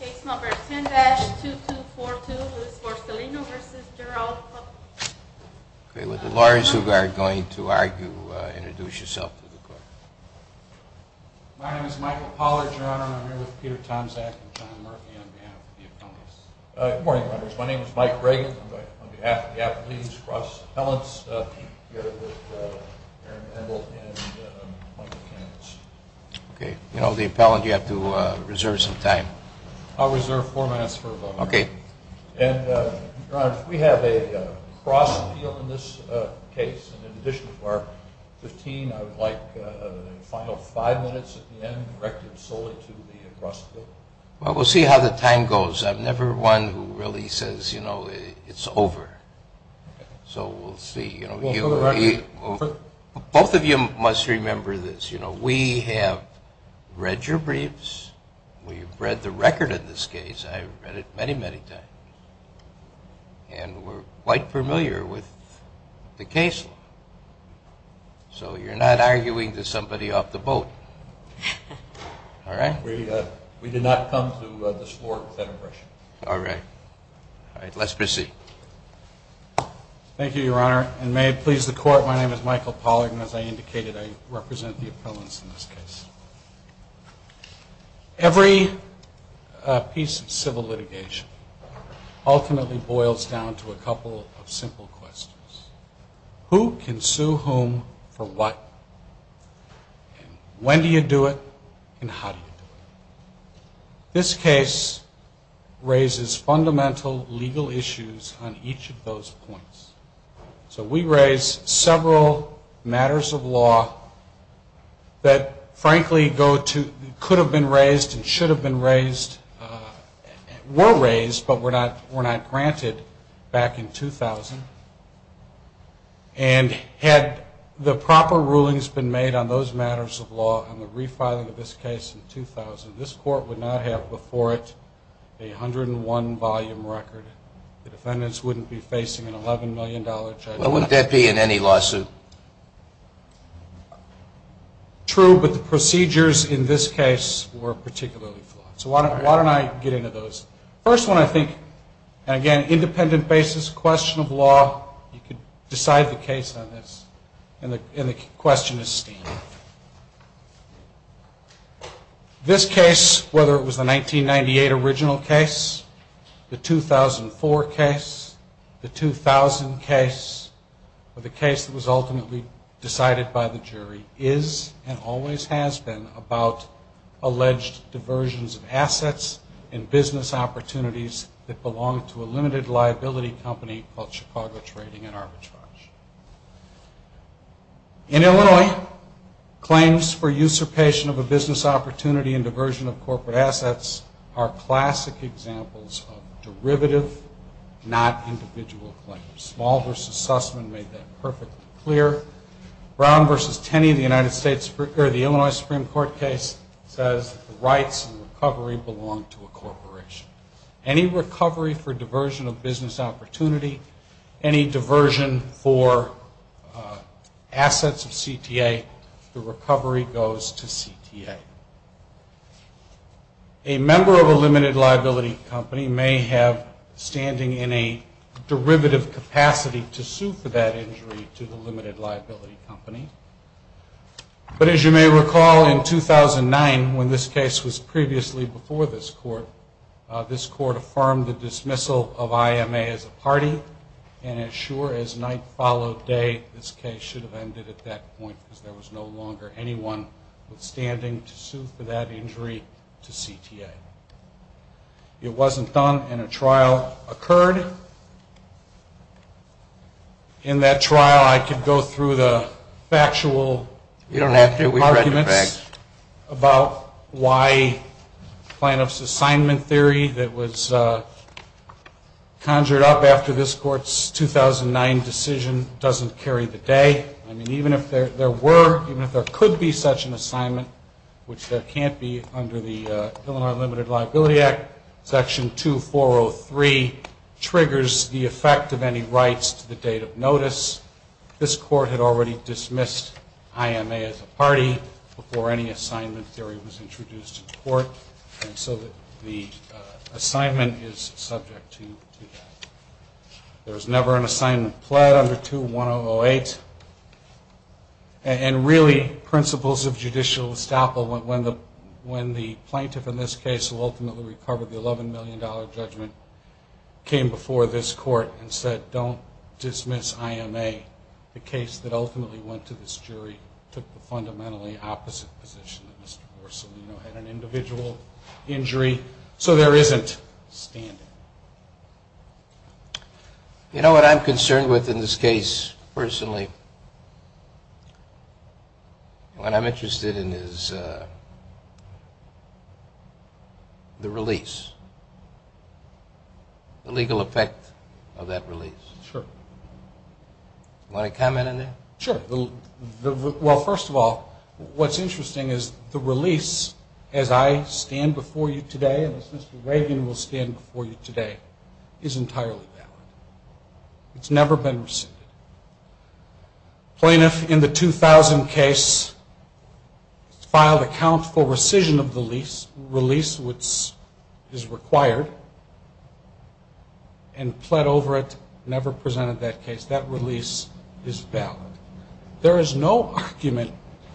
Case number 10-2242, Louis Borsellino v. Gerald Putnam. Okay, with the lawyers who are going to argue, introduce yourself to the court. My name is Michael Pollard, Your Honor, and I'm here with Peter Tomczak and John Murphy on behalf of the appellants. Good morning, members. My name is Mike Reagan. I'm here on behalf of the appellees, cross-appellants. I'm here with Aaron Emble and Michael Kandich. Okay. You know, the appellant, you have to reserve some time. I'll reserve four minutes for a moment. Okay. And, Your Honor, if we have a cross-appeal in this case, and in addition to our 15, I would like a final five minutes at the end directed solely to the cross-appeal. Well, we'll see how the time goes. I'm never one who really says, you know, it's over. So we'll see. Both of you must remember this. You know, we have read your briefs. We've read the record of this case. I've read it many, many times. And we're quite familiar with the case law. So you're not arguing to somebody off the boat. All right? We did not come to this court with that impression. All right. All right, let's proceed. Thank you, Your Honor. And may it please the Court, my name is Michael Pollard, and as I indicated, I represent the appellants in this case. Every piece of civil litigation ultimately boils down to a couple of simple questions. Who can sue whom for what? When do you do it, and how do you do it? This case raises fundamental legal issues on each of those points. So we raise several matters of law that, frankly, could have been raised and should have been raised, were raised, but were not granted back in 2000. And had the proper rulings been made on those matters of law and the refiling of this case in 2000, this court would not have before it a 101-volume record. The defendants wouldn't be facing an $11 million charge. Why wouldn't that be in any lawsuit? True, but the procedures in this case were particularly flawed. So why don't I get into those. First one, I think, and again, independent basis, question of law, you could decide the case on this. And the question is standard. This case, whether it was the 1998 original case, the 2004 case, the 2000 case, or the case that was ultimately decided by the jury, is and always has been about alleged diversions of assets and business opportunities that belong to a limited liability company called Chicago Trading and Arbitrage. In Illinois, claims for usurpation of a business opportunity and diversion of corporate assets are classic examples of derivative, not individual claims. Small v. Sussman made that perfectly clear. Brown v. Tenney, the Illinois Supreme Court case, says the rights and recovery belong to a corporation. Any recovery for diversion of business opportunity, any diversion for assets of CTA, the recovery goes to CTA. A member of a limited liability company may have standing in a derivative capacity to sue for that injury to the limited liability company. But as you may recall, in 2009, when this case was previously before this court, this court affirmed the dismissal of IMA as a party, and as sure as night followed day, this case should have ended at that point because there was no longer anyone withstanding to sue for that injury to CTA. It wasn't done, and a trial occurred. In that trial, I could go through the factual arguments about why plaintiff's assignment theory that was conjured up after this court's 2009 decision doesn't carry the day. I mean, even if there were, even if there could be such an assignment, which there can't be under the Illinois Limited Liability Act, Section 2403 triggers the effect of any rights to the date of notice. This court had already dismissed IMA as a party before any assignment theory was introduced in court, and so the assignment is subject to that. There was never an assignment pled under 2108. And really, principles of judicial estoppel, when the plaintiff in this case who ultimately recovered the $11 million judgment came before this court and said, don't dismiss IMA, the case that ultimately went to this jury took the fundamentally opposite position that Mr. Borsolino had an individual injury, so there isn't standing. You know what I'm concerned with in this case, personally? What I'm interested in is the release, the legal effect of that release. Sure. Want to comment on that? Sure. Well, first of all, what's interesting is the release, as I stand before you today and as Mr. Rabin will stand before you today, is entirely valid. It's never been rescinded. Plaintiff in the 2000 case filed a count for rescission of the lease, release which is required, and pled over it, never presented that case. That release is valid. There is no argument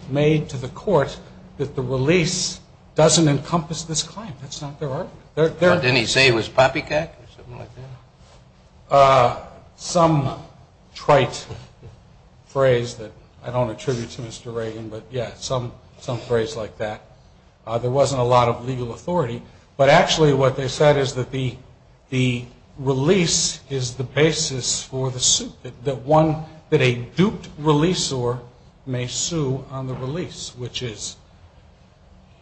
made to the court that the release doesn't encompass this claim. That's not their argument. Didn't he say it was poppycock or something like that? Some trite phrase that I don't attribute to Mr. Rabin, but, yeah, some phrase like that. There wasn't a lot of legal authority, but actually what they said is that the release is the basis for the suit, that a duped releasor may sue on the release, which is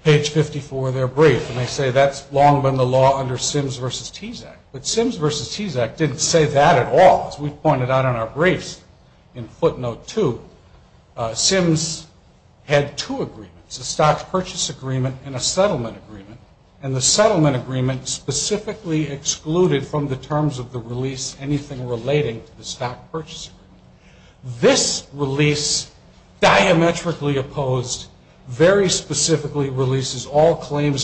page 54 of their brief, and they say that's long been the law under Sims v. Tease Act. But Sims v. Tease Act didn't say that at all. As we pointed out in our briefs in footnote two, Sims had two agreements, a stock purchase agreement and a settlement agreement, and the settlement agreement specifically excluded from the terms of the release anything relating to the stock purchase agreement.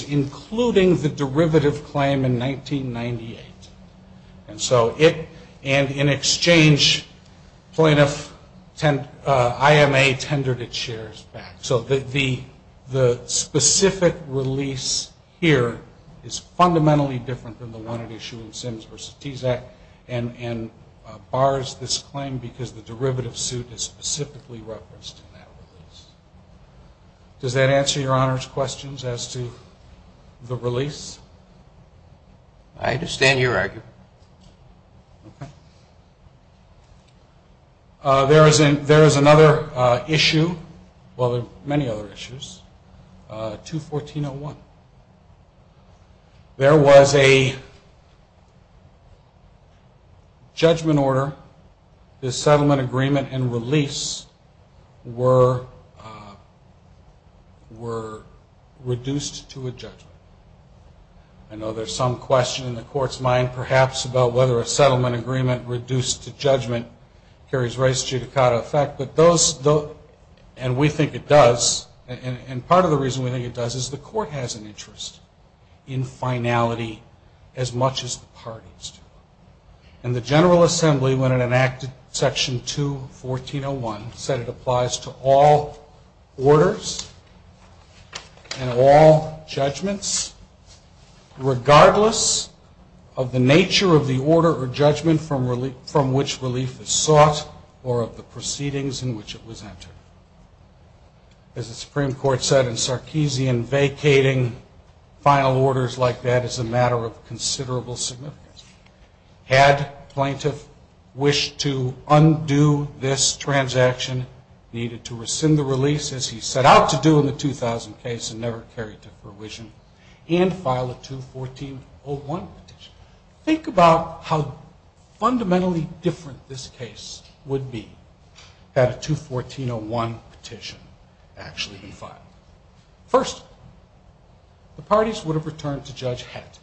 including the derivative claim in 1998. And so it and in exchange plaintiff IMA tendered its shares back. So the specific release here is fundamentally different than the one at issue in Sims v. Tease Act and bars this claim because the derivative suit is specifically referenced in that release. Does that answer your Honor's questions as to the release? I understand your argument. Okay. There is another issue, well, there are many other issues, 214.01. There was a judgment order. The settlement agreement and release were reduced to a judgment. I know there's some question in the court's mind perhaps about whether a settlement agreement reduced to judgment carries race judicata effect, but those, and we think it does, and part of the reason we think it does is the court has an interest in finality as much as the parties do. And the General Assembly when it enacted section 214.01 said it applies to all orders and all judgments regardless of the nature of the order or judgment from which relief is sought or of the proceedings in which it was entered. As the Supreme Court said in Sarkeesian, vacating final orders like that is a matter of considerable significance. Had plaintiff wished to undo this transaction, needed to rescind the release as he set out to do in the 2000 case and never carried to fruition, and file a 214.01 petition, think about how fundamentally different this case would be had a 214.01 petition actually been filed. First, the parties would have returned to Judge Hett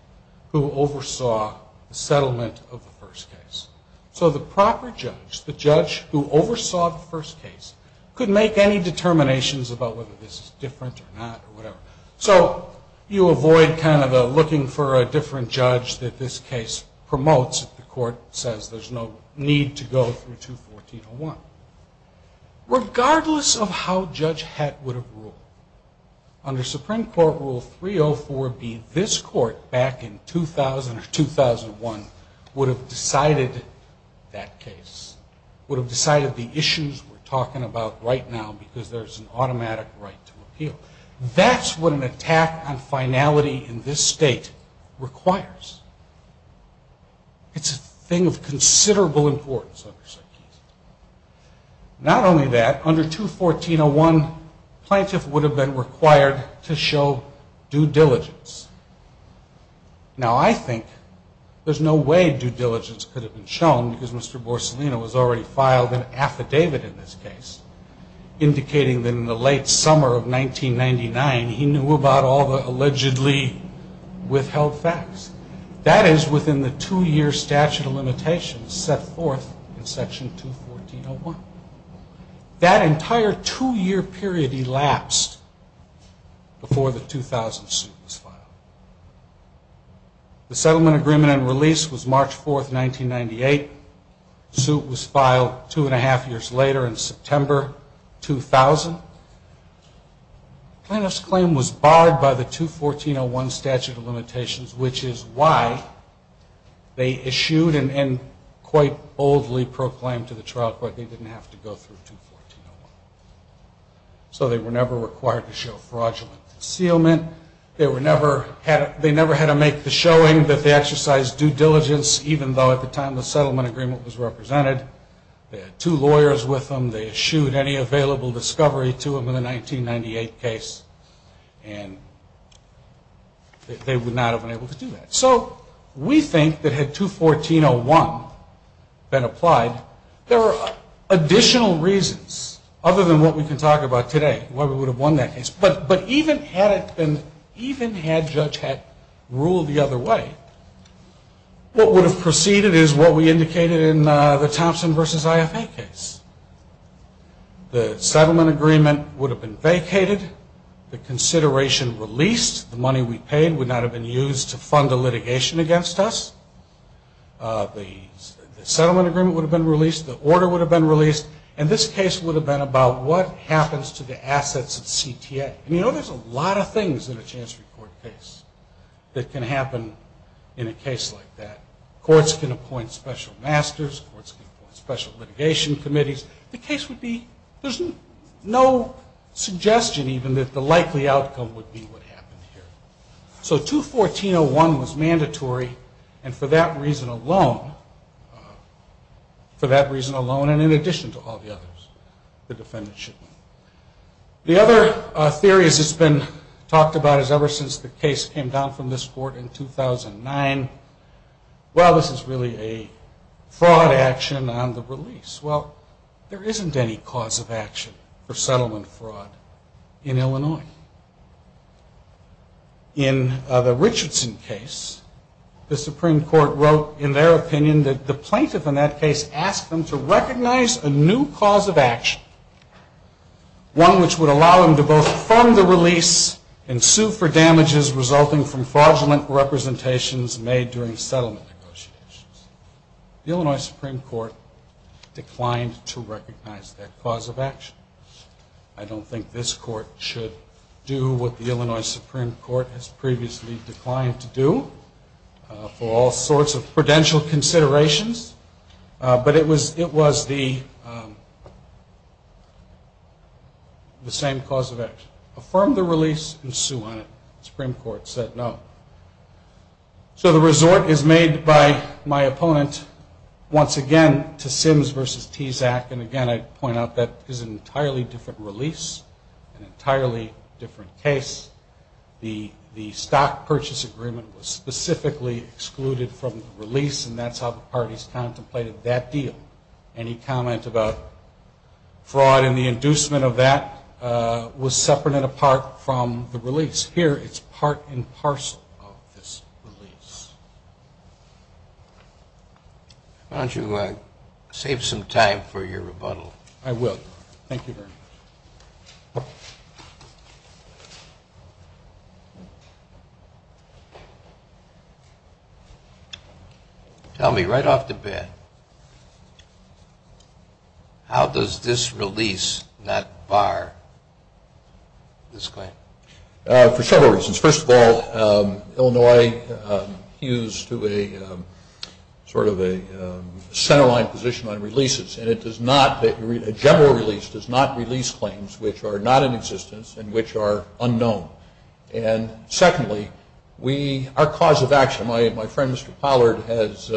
who oversaw the settlement of the first case. So the proper judge, the judge who oversaw the first case, could make any determinations about whether this is different or not or whatever. So you avoid kind of looking for a different judge that this case promotes if the court says there's no need to go through 214.01. Regardless of how Judge Hett would have ruled, under Supreme Court Rule 304B, this court back in 2000 or 2001 would have decided that case, would have decided the issues we're talking about right now because there's an automatic right to appeal. That's what an attack on finality in this state requires. It's a thing of considerable importance. Not only that, under 214.01, plaintiff would have been required to show due diligence. Now, I think there's no way due diligence could have been shown because Mr. Borsolino has already filed an affidavit in this case indicating that in the late summer of 1999, he knew about all the allegedly withheld facts. That is within the two-year statute of limitations set forth in Section 214.01. That entire two-year period elapsed before the 2000 suit was filed. The settlement agreement and release was March 4, 1998. The suit was filed two-and-a-half years later in September 2000. Plaintiff's claim was barred by the 214.01 statute of limitations, which is why they issued and quite boldly proclaimed to the trial court they didn't have to go through 214.01. So they were never required to show fraudulent concealment. They never had to make the showing that they exercised due diligence, even though at the time the settlement agreement was represented. They had two lawyers with them. They eschewed any available discovery to them in the 1998 case, and they would not have been able to do that. So we think that had 214.01 been applied, there are additional reasons, other than what we can talk about today, why we would have won that case. But even had it been, even had judge had ruled the other way, what would have proceeded is what we indicated in the Thompson v. IFA case. The settlement agreement would have been vacated. The consideration released, the money we paid, would not have been used to fund a litigation against us. The settlement agreement would have been released. The order would have been released. And this case would have been about what happens to the assets at CTA. And, you know, there's a lot of things in a chancery court case that can happen in a case like that. Courts can appoint special masters. Courts can appoint special litigation committees. The case would be, there's no suggestion even that the likely outcome would be what happened here. So 214.01 was mandatory, and for that reason alone, and in addition to all the others, the defendant should win. The other theory that's been talked about is ever since the case came down from this court in 2009, well, this is really a fraud action on the release. Well, there isn't any cause of action for settlement fraud in Illinois. In the Richardson case, the Supreme Court wrote, in their opinion, that the plaintiff in that case asked them to recognize a new cause of action, one which would allow them to both fund the release and sue for damages resulting from fraudulent representations made during settlement negotiations. The Illinois Supreme Court declined to recognize that cause of action. I don't think this court should do what the Illinois Supreme Court has previously declined to do for all sorts of prudential considerations, but it was the same cause of action. Affirm the release and sue on it. The Supreme Court said no. So the resort is made by my opponent once again to Sims v. Tezak, and, again, I'd point out that is an entirely different release, an entirely different case. The stock purchase agreement was specifically excluded from the release, and that's how the parties contemplated that deal. Any comment about fraud and the inducement of that was separate and apart from the release. Here it's part and parcel of this release. Why don't you save some time for your rebuttal. I will. Thank you very much. Tell me, right off the bat, how does this release not bar this claim? For several reasons. First of all, Illinois hews to a sort of a centerline position on releases, and a general release does not release claims which are not in existence and which are unknown. And, secondly, our cause of action, my friend Mr. Pollard has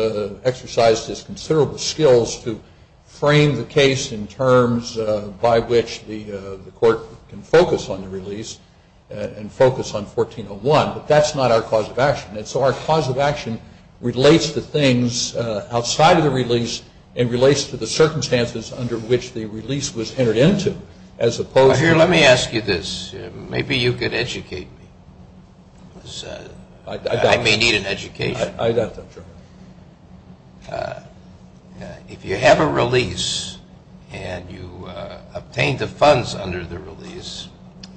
exercised his considerable skills to frame the case in terms by which the court can focus on the release and focus on 1401, but that's not our cause of action. And so our cause of action relates to things outside of the release and relates to the circumstances under which the release was entered into as opposed to. Here, let me ask you this. Maybe you could educate me. I may need an education. I doubt that, sir.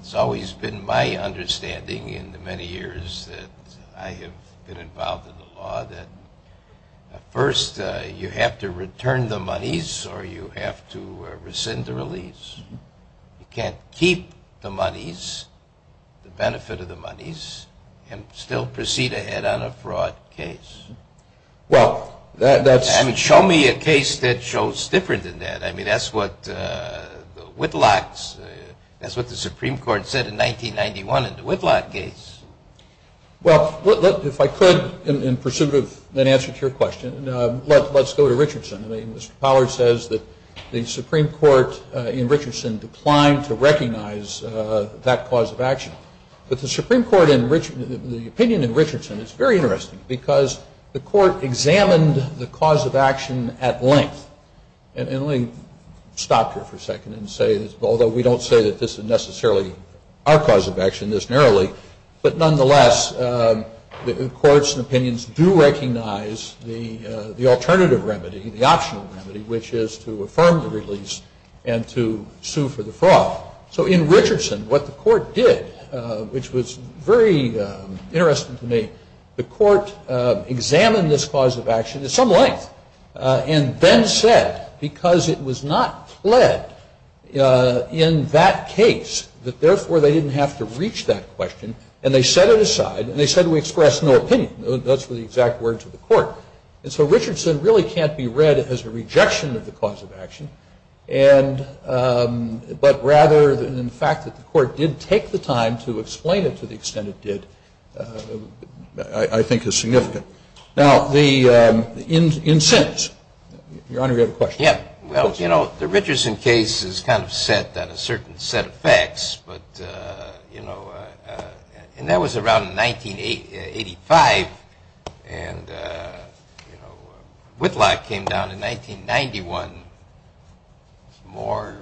It's always been my understanding in the many years that I have been involved in the law that, first, you have to return the monies or you have to rescind the release. You can't keep the monies, the benefit of the monies, and still proceed ahead on a fraud case. Well, that's... I mean, show me a case that shows different than that. I mean, that's what Whitlock's... That's what the Supreme Court said in 1991 in the Whitlock case. Well, if I could, in pursuit of an answer to your question, let's go to Richardson. I mean, Mr. Pollard says that the Supreme Court in Richardson declined to recognize that cause of action. But the Supreme Court, the opinion in Richardson is very interesting because the court examined the cause of action at length. And let me stop here for a second and say, although we don't say that this is necessarily our cause of action this narrowly, but nonetheless the courts and opinions do recognize the alternative remedy, the optional remedy, which is to affirm the release and to sue for the fraud. So in Richardson, what the court did, which was very interesting to me, the court examined this cause of action at some length and then said, because it was not pled in that case, that therefore they didn't have to reach that question, and they set it aside and they said we express no opinion. That's the exact words of the court. And so Richardson really can't be read as a rejection of the cause of action, but rather the fact that the court did take the time to explain it to the extent it did, I think, is significant. Now, in sentence. Your Honor, you had a question. Yeah. Well, you know, the Richardson case is kind of set on a certain set of facts, but, you know, and that was around 1985, and Whitlock came down in 1991. It's more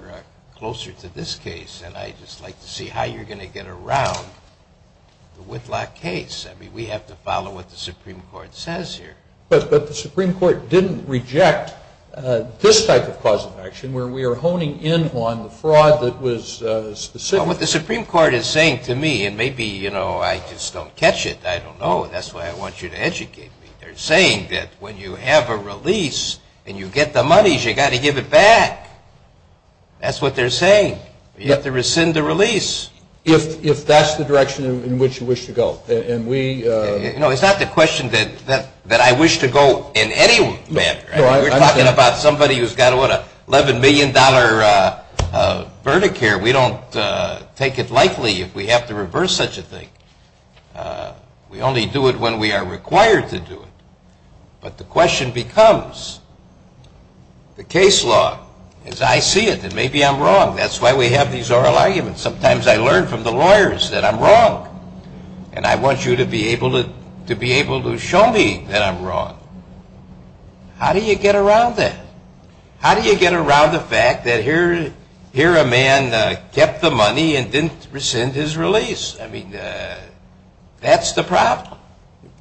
closer to this case, and I'd just like to see how you're going to get around the Whitlock case. I mean, we have to follow what the Supreme Court says here. But the Supreme Court didn't reject this type of cause of action, where we are honing in on the fraud that was specific. Well, what the Supreme Court is saying to me, and maybe, you know, I just don't catch it. I don't know. That's why I want you to educate me. They're saying that when you have a release and you get the monies, you've got to give it back. That's what they're saying. You have to rescind the release. If that's the direction in which you wish to go. No, it's not the question that I wish to go in any manner. We're talking about somebody who's got, what, an $11 million verdict here. We don't take it lightly if we have to reverse such a thing. We only do it when we are required to do it. But the question becomes, the case law, as I see it, and maybe I'm wrong. That's why we have these oral arguments. Sometimes I learn from the lawyers that I'm wrong, and I want you to be able to show me that I'm wrong. How do you get around that? How do you get around the fact that here a man kept the money and didn't rescind his release? I mean, that's the problem,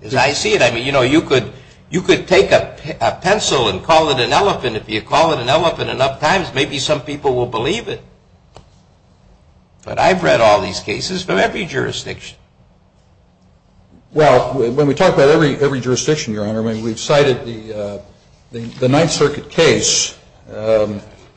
as I see it. I mean, you know, you could take a pencil and call it an elephant. If you call it an elephant enough times, maybe some people will believe it. But I've read all these cases from every jurisdiction. Well, when we talk about every jurisdiction, Your Honor, I mean, we've cited the Ninth Circuit case.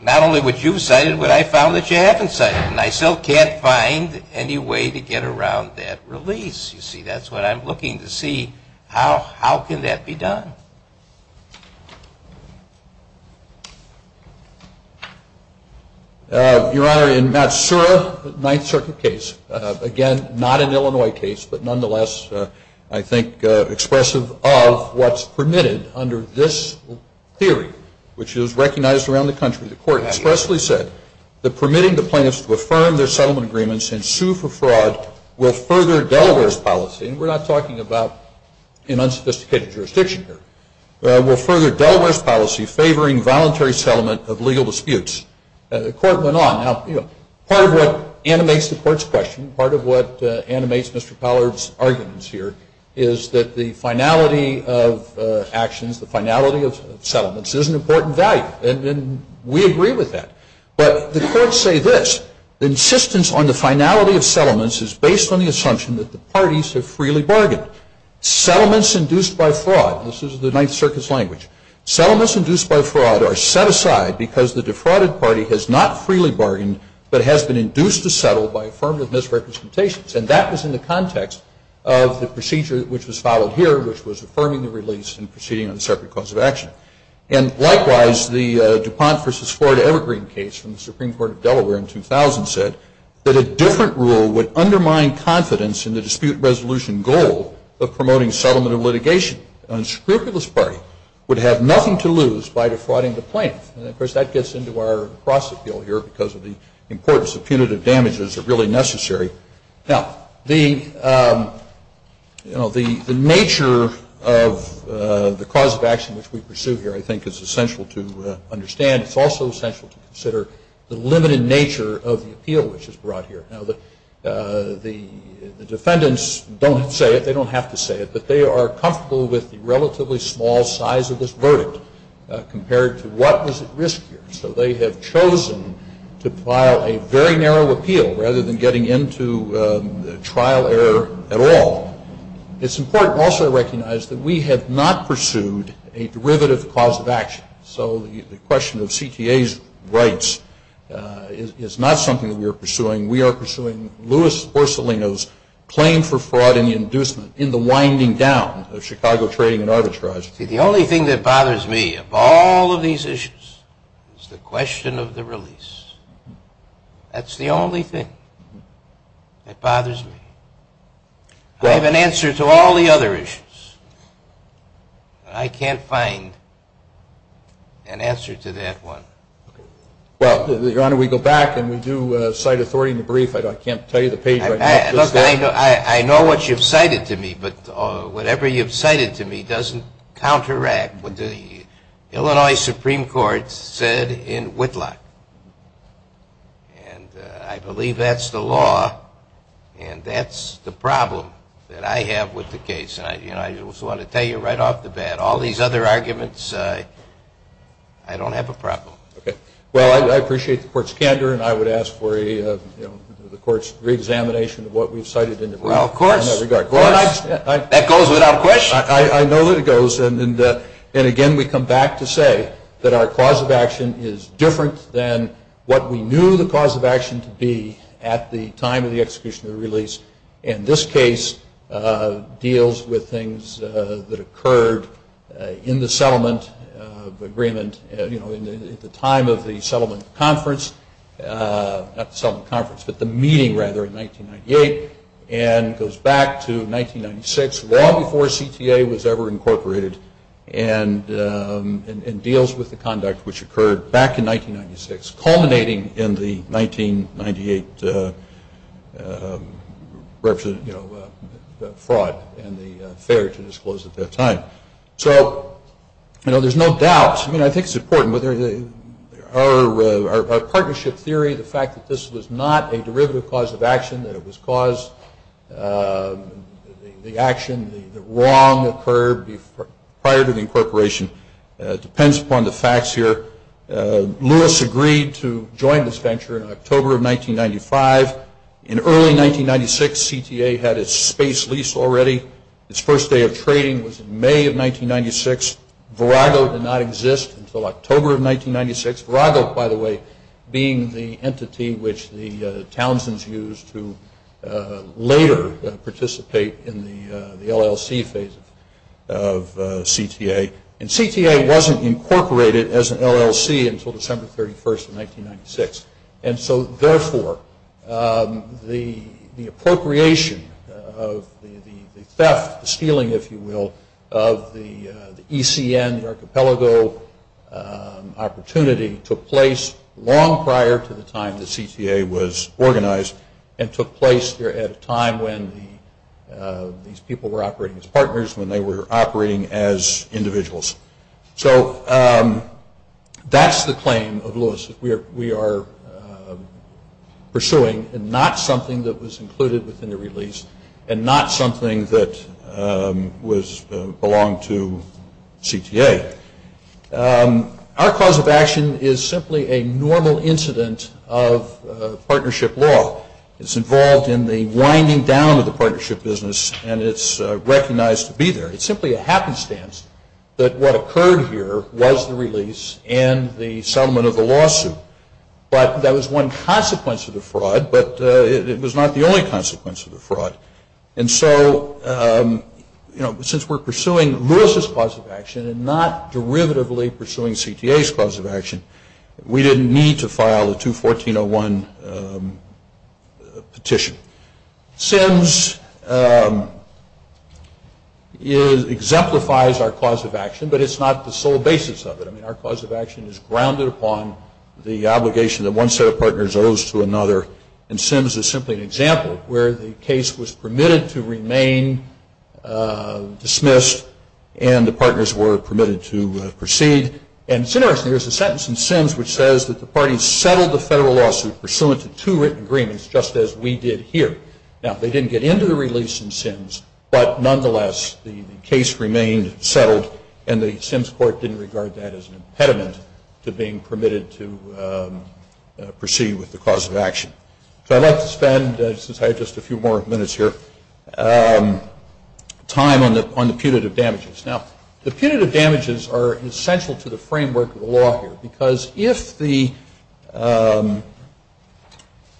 Not only would you have cited it, but I found that you haven't cited it. And I still can't find any way to get around that release. You see, that's what I'm looking to see. How can that be done? Your Honor, in Matsura, the Ninth Circuit case, again, not an Illinois case, but nonetheless I think expressive of what's permitted under this theory, which is recognized around the country, the Court expressly said that permitting the plaintiffs to affirm their settlement agreements and sue for fraud will further Delaware's policy, and we're not talking about an unsophisticated jurisdiction here, will further Delaware's policy favoring voluntary settlement of legal disputes. The Court went on. Now, part of what animates the Court's question, part of what animates Mr. Pollard's arguments here, is that the finality of actions, the finality of settlements, is an important value. And we agree with that. But the Courts say this, insistence on the finality of settlements is based on the assumption that the parties have freely bargained. Settlements induced by fraud, this is the Ninth Circuit's language, settlements induced by fraud are set aside because the defrauded party has not freely bargained, but has been induced to settle by affirmative misrepresentations. And that was in the context of the procedure which was followed here, which was affirming the release and proceeding on a separate cause of action. And, likewise, the DuPont v. Florida Evergreen case from the Supreme Court of Delaware in 2000 said that a different rule would undermine confidence in the dispute resolution goal of promoting settlement of litigation. An unscrupulous party would have nothing to lose by defrauding the plaintiff. And, of course, that gets into our cross-appeal here because of the importance of punitive damages are really necessary. Now, the nature of the cause of action which we pursue here I think is essential to understand. It's also essential to consider the limited nature of the appeal which is brought here. Now, the defendants don't say it. They don't have to say it. But they are comfortable with the relatively small size of this verdict compared to what was at risk here. So they have chosen to file a very narrow appeal rather than getting into trial error at all. It's important also to recognize that we have not pursued a derivative cause of action. So the question of CTA's rights is not something that we are pursuing. We are pursuing Louis Porcellino's claim for fraud and inducement in the winding down of Chicago trading and arbitrage. See, the only thing that bothers me of all of these issues is the question of the release. That's the only thing that bothers me. I have an answer to all the other issues. I can't find an answer to that one. Well, Your Honor, we go back and we do cite authority in the brief. I can't tell you the page right now. I know what you've cited to me, but whatever you've cited to me doesn't counteract what the Illinois Supreme Court said in Whitlock. And I believe that's the law and that's the problem that I have with the case. And I just want to tell you right off the bat, all these other arguments, I don't have a problem. Okay. Well, I appreciate the Court's candor, and I would ask for the Court's reexamination of what we've cited in the brief. Well, of course. That goes without question. I know that it goes. And, again, we come back to say that our cause of action is different than what we knew the cause of action to be at the time of the execution of the release. And this case deals with things that occurred in the settlement agreement at the time of the meeting in 1998 and goes back to 1996, long before CTA was ever incorporated, and deals with the conduct which occurred back in 1996, culminating in the 1998 fraud and the failure to disclose at that time. So, you know, there's no doubt. I mean, I think it's important. Our partnership theory, the fact that this was not a derivative cause of action, that it was caused, the action, the wrong occurred prior to the incorporation, depends upon the facts here. Lewis agreed to join this venture in October of 1995. In early 1996, CTA had its space lease already. Its first day of trading was in May of 1996. Virago did not exist until October of 1996. Virago, by the way, being the entity which the Townsends used to later participate in the LLC phase of CTA. And CTA wasn't incorporated as an LLC until December 31st of 1996. And so, therefore, the appropriation of the theft, the stealing, if you will, of the ECN, the archipelago opportunity, took place long prior to the time that CTA was organized and took place at a time when these people were operating as partners, when they were operating as individuals. So that's the claim of Lewis that we are pursuing and not something that was included within the release and not something that belonged to CTA. Our cause of action is simply a normal incident of partnership law. It's involved in the winding down of the partnership business, and it's recognized to be there. It's simply a happenstance that what occurred here was the release and the settlement of the lawsuit. But that was one consequence of the fraud, but it was not the only consequence of the fraud. And so, you know, since we're pursuing Lewis's cause of action and not derivatively pursuing CTA's cause of action, we didn't need to file a 214-01 petition. Sims exemplifies our cause of action, but it's not the sole basis of it. I mean, our cause of action is grounded upon the obligation that one set of partners owes to another, and Sims is simply an example where the case was permitted to remain dismissed and the partners were permitted to proceed. And similarly, there's a sentence in Sims which says that the parties settled the federal lawsuit pursuant to two written agreements just as we did here. Now, they didn't get into the release in Sims, but nonetheless, the case remained settled, and the Sims court didn't regard that as an impediment to being permitted to proceed with the cause of action. So I'd like to spend, since I have just a few more minutes here, time on the punitive damages. Now, the punitive damages are essential to the framework of the law here, because if there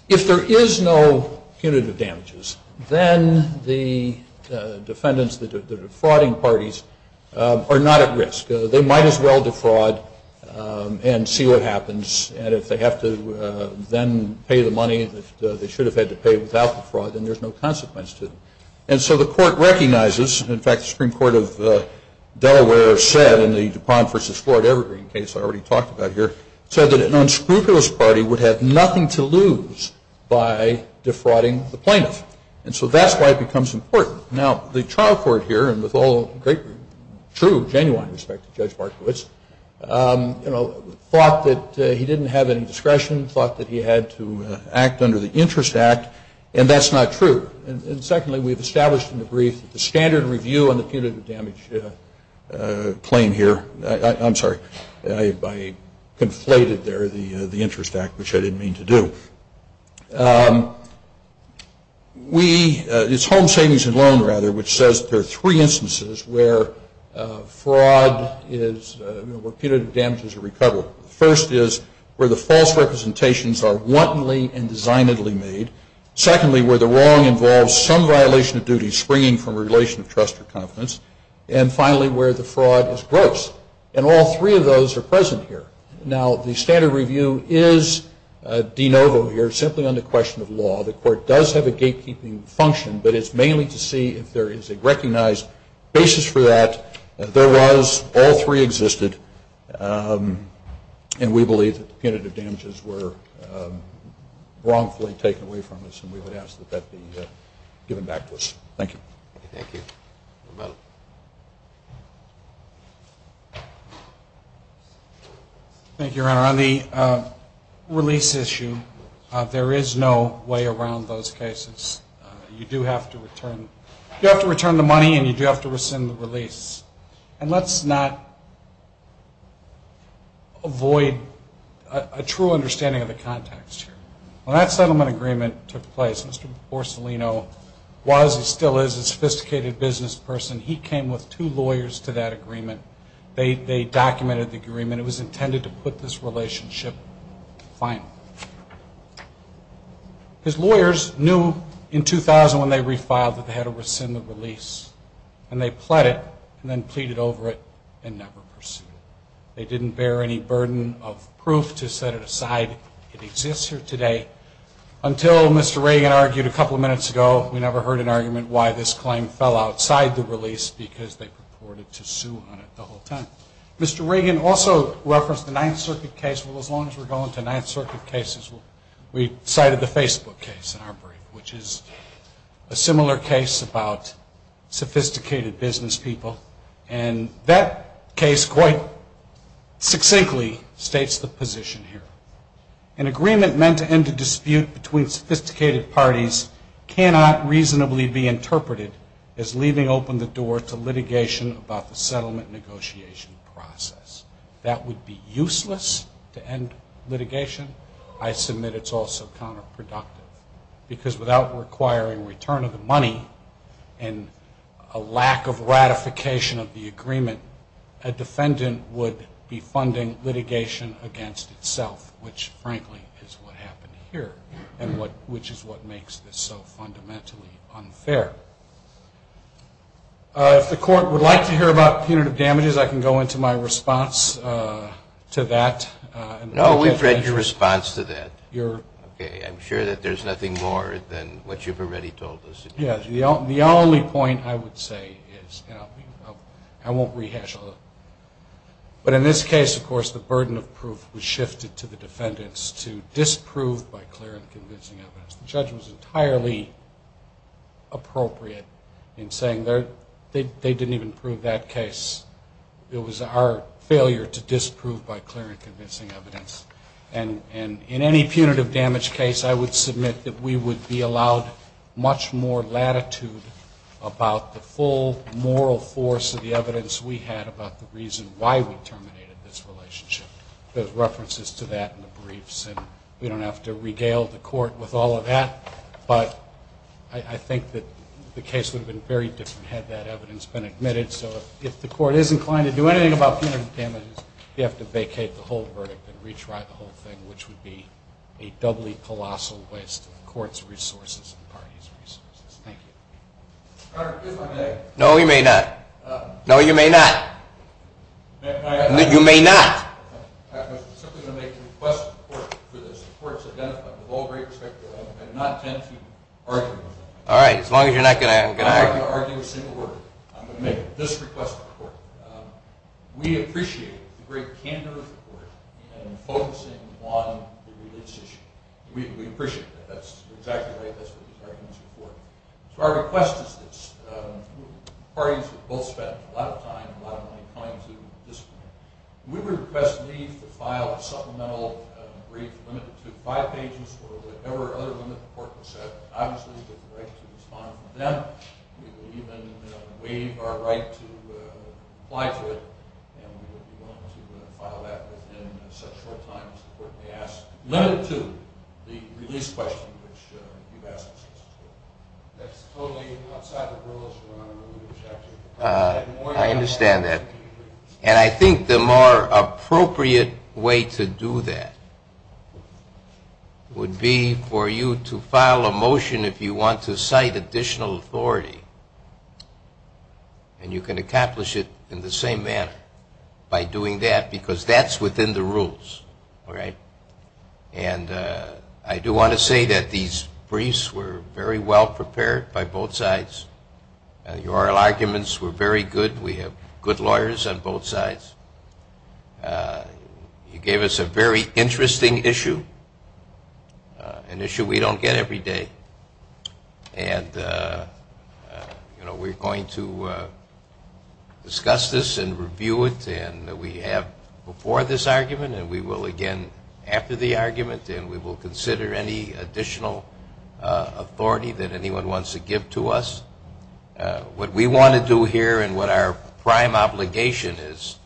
is no punitive damages, then the defendants, the defrauding parties, are not at risk. They might as well defraud and see what happens, and if they have to then pay the money that they should have had to pay without the fraud, then there's no consequence to it. And so the Court recognizes, in fact, the Supreme Court of Delaware said in the DuPont v. Floyd Evergreen case I already talked about here, said that an unscrupulous party would have nothing to lose by defrauding the plaintiff. And so that's why it becomes important. Now, the trial court here, and with all great, true, genuine respect to Judge Markowitz, thought that he didn't have any discretion, thought that he had to act under the Interest Act, and that's not true. And secondly, we have established in the brief the standard review on the punitive damage claim here. I'm sorry, I conflated there the Interest Act, which I didn't mean to do. We, it's Home Savings and Loan, rather, which says there are three instances where fraud is, where punitive damages are recovered. The first is where the false representations are wantonly and designedly made. Secondly, where the wrong involves some violation of duty springing from a relation of trust or confidence. And finally, where the fraud is gross. And all three of those are present here. Now, the standard review is de novo here, simply on the question of law. The Court does have a gatekeeping function, but it's mainly to see if there is a recognized basis for that. There was. All three existed. And we believe that the punitive damages were wrongfully taken away from us, and we would ask that that be given back to us. Thank you. Thank you. Thank you, Your Honor. On the release issue, there is no way around those cases. You do have to return the money, and you do have to rescind the release. And let's not avoid a true understanding of the context here. When that settlement agreement took place, Mr. Borsolino was, and still is, a sophisticated business person. He came with two lawyers to that agreement. They documented the agreement. It was intended to put this relationship to the final. His lawyers knew in 2000 when they refiled that they had to rescind the release, and they pled it and then pleaded over it and never pursued it. They didn't bear any burden of proof to set it aside. It exists here today. Until Mr. Reagan argued a couple of minutes ago, we never heard an argument why this claim fell outside the release because they purported to sue on it the whole time. Mr. Reagan also referenced the Ninth Circuit case. Well, as long as we're going to Ninth Circuit cases, we cited the Facebook case in our brief, which is a similar case about sophisticated business people, and that case quite succinctly states the position here. An agreement meant to end a dispute between sophisticated parties cannot reasonably be interpreted as leaving open the door to litigation about the settlement negotiation process. That would be useless to end litigation. I submit it's also counterproductive because without requiring return of the money and a lack of ratification of the agreement, a defendant would be funding litigation against itself, which frankly is what happened here and which is what makes this so fundamentally unfair. If the court would like to hear about punitive damages, I can go into my response to that. No, we've read your response to that. Okay, I'm sure that there's nothing more than what you've already told us. Yes, the only point I would say is, and I won't rehash all of it, but in this case, of course, the burden of proof was shifted to the defendants to disprove by clear and convincing evidence. The judge was entirely appropriate in saying they didn't even prove that case. It was our failure to disprove by clear and convincing evidence. And in any punitive damage case, I would submit that we would be allowed much more latitude about the full moral force of the evidence we had about the reason why we terminated this relationship. There's references to that in the briefs, and we don't have to regale the court with all of that, but I think that the case would have been very different had that evidence been admitted. So if the court is inclined to do anything about punitive damages, you have to vacate the whole verdict and retry the whole thing, which would be a doubly colossal waste of the court's resources and the party's resources. Thank you. Your Honor, if I may. No, you may not. No, you may not. You may not. I was simply going to make a request to the court for this. The court's identified with all great respect that I do not intend to argue with it. All right, as long as you're not going to argue. I'm not going to argue a single word. I'm going to make this request to the court. We appreciate the great candor of the court in focusing on the religious issue. We appreciate that. That's exactly right. That's what this argument is for. So our request is this. Parties have both spent a lot of time and a lot of money coming to this point. We would request leave to file a supplemental brief limited to five pages or whatever other limit the court would set. Obviously, we have the right to respond to them. We would even waive our right to comply to it, and we would be willing to file that within such short time as the court may ask, limited to the release question, which you've asked us to. That's totally outside the rules, Your Honor. I understand that. And I think the more appropriate way to do that would be for you to file a motion if you want to cite additional authority, and you can accomplish it in the same manner by doing that, because that's within the rules, all right? And I do want to say that these briefs were very well prepared by both sides. The oral arguments were very good. We have good lawyers on both sides. You gave us a very interesting issue, an issue we don't get every day. And, you know, we're going to discuss this and review it, and we have before this argument, and we will again after the argument, and we will consider any additional authority that anyone wants to give to us. What we want to do here and what our prime obligation is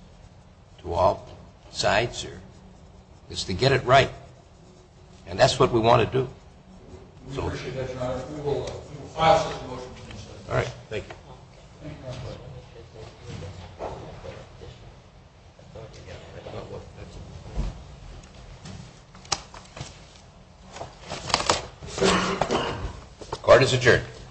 to all sides is to get it right, and that's what we want to do. We appreciate that, Your Honor. We will file such a motion. All right. Thank you. Thank you. The court is adjourned.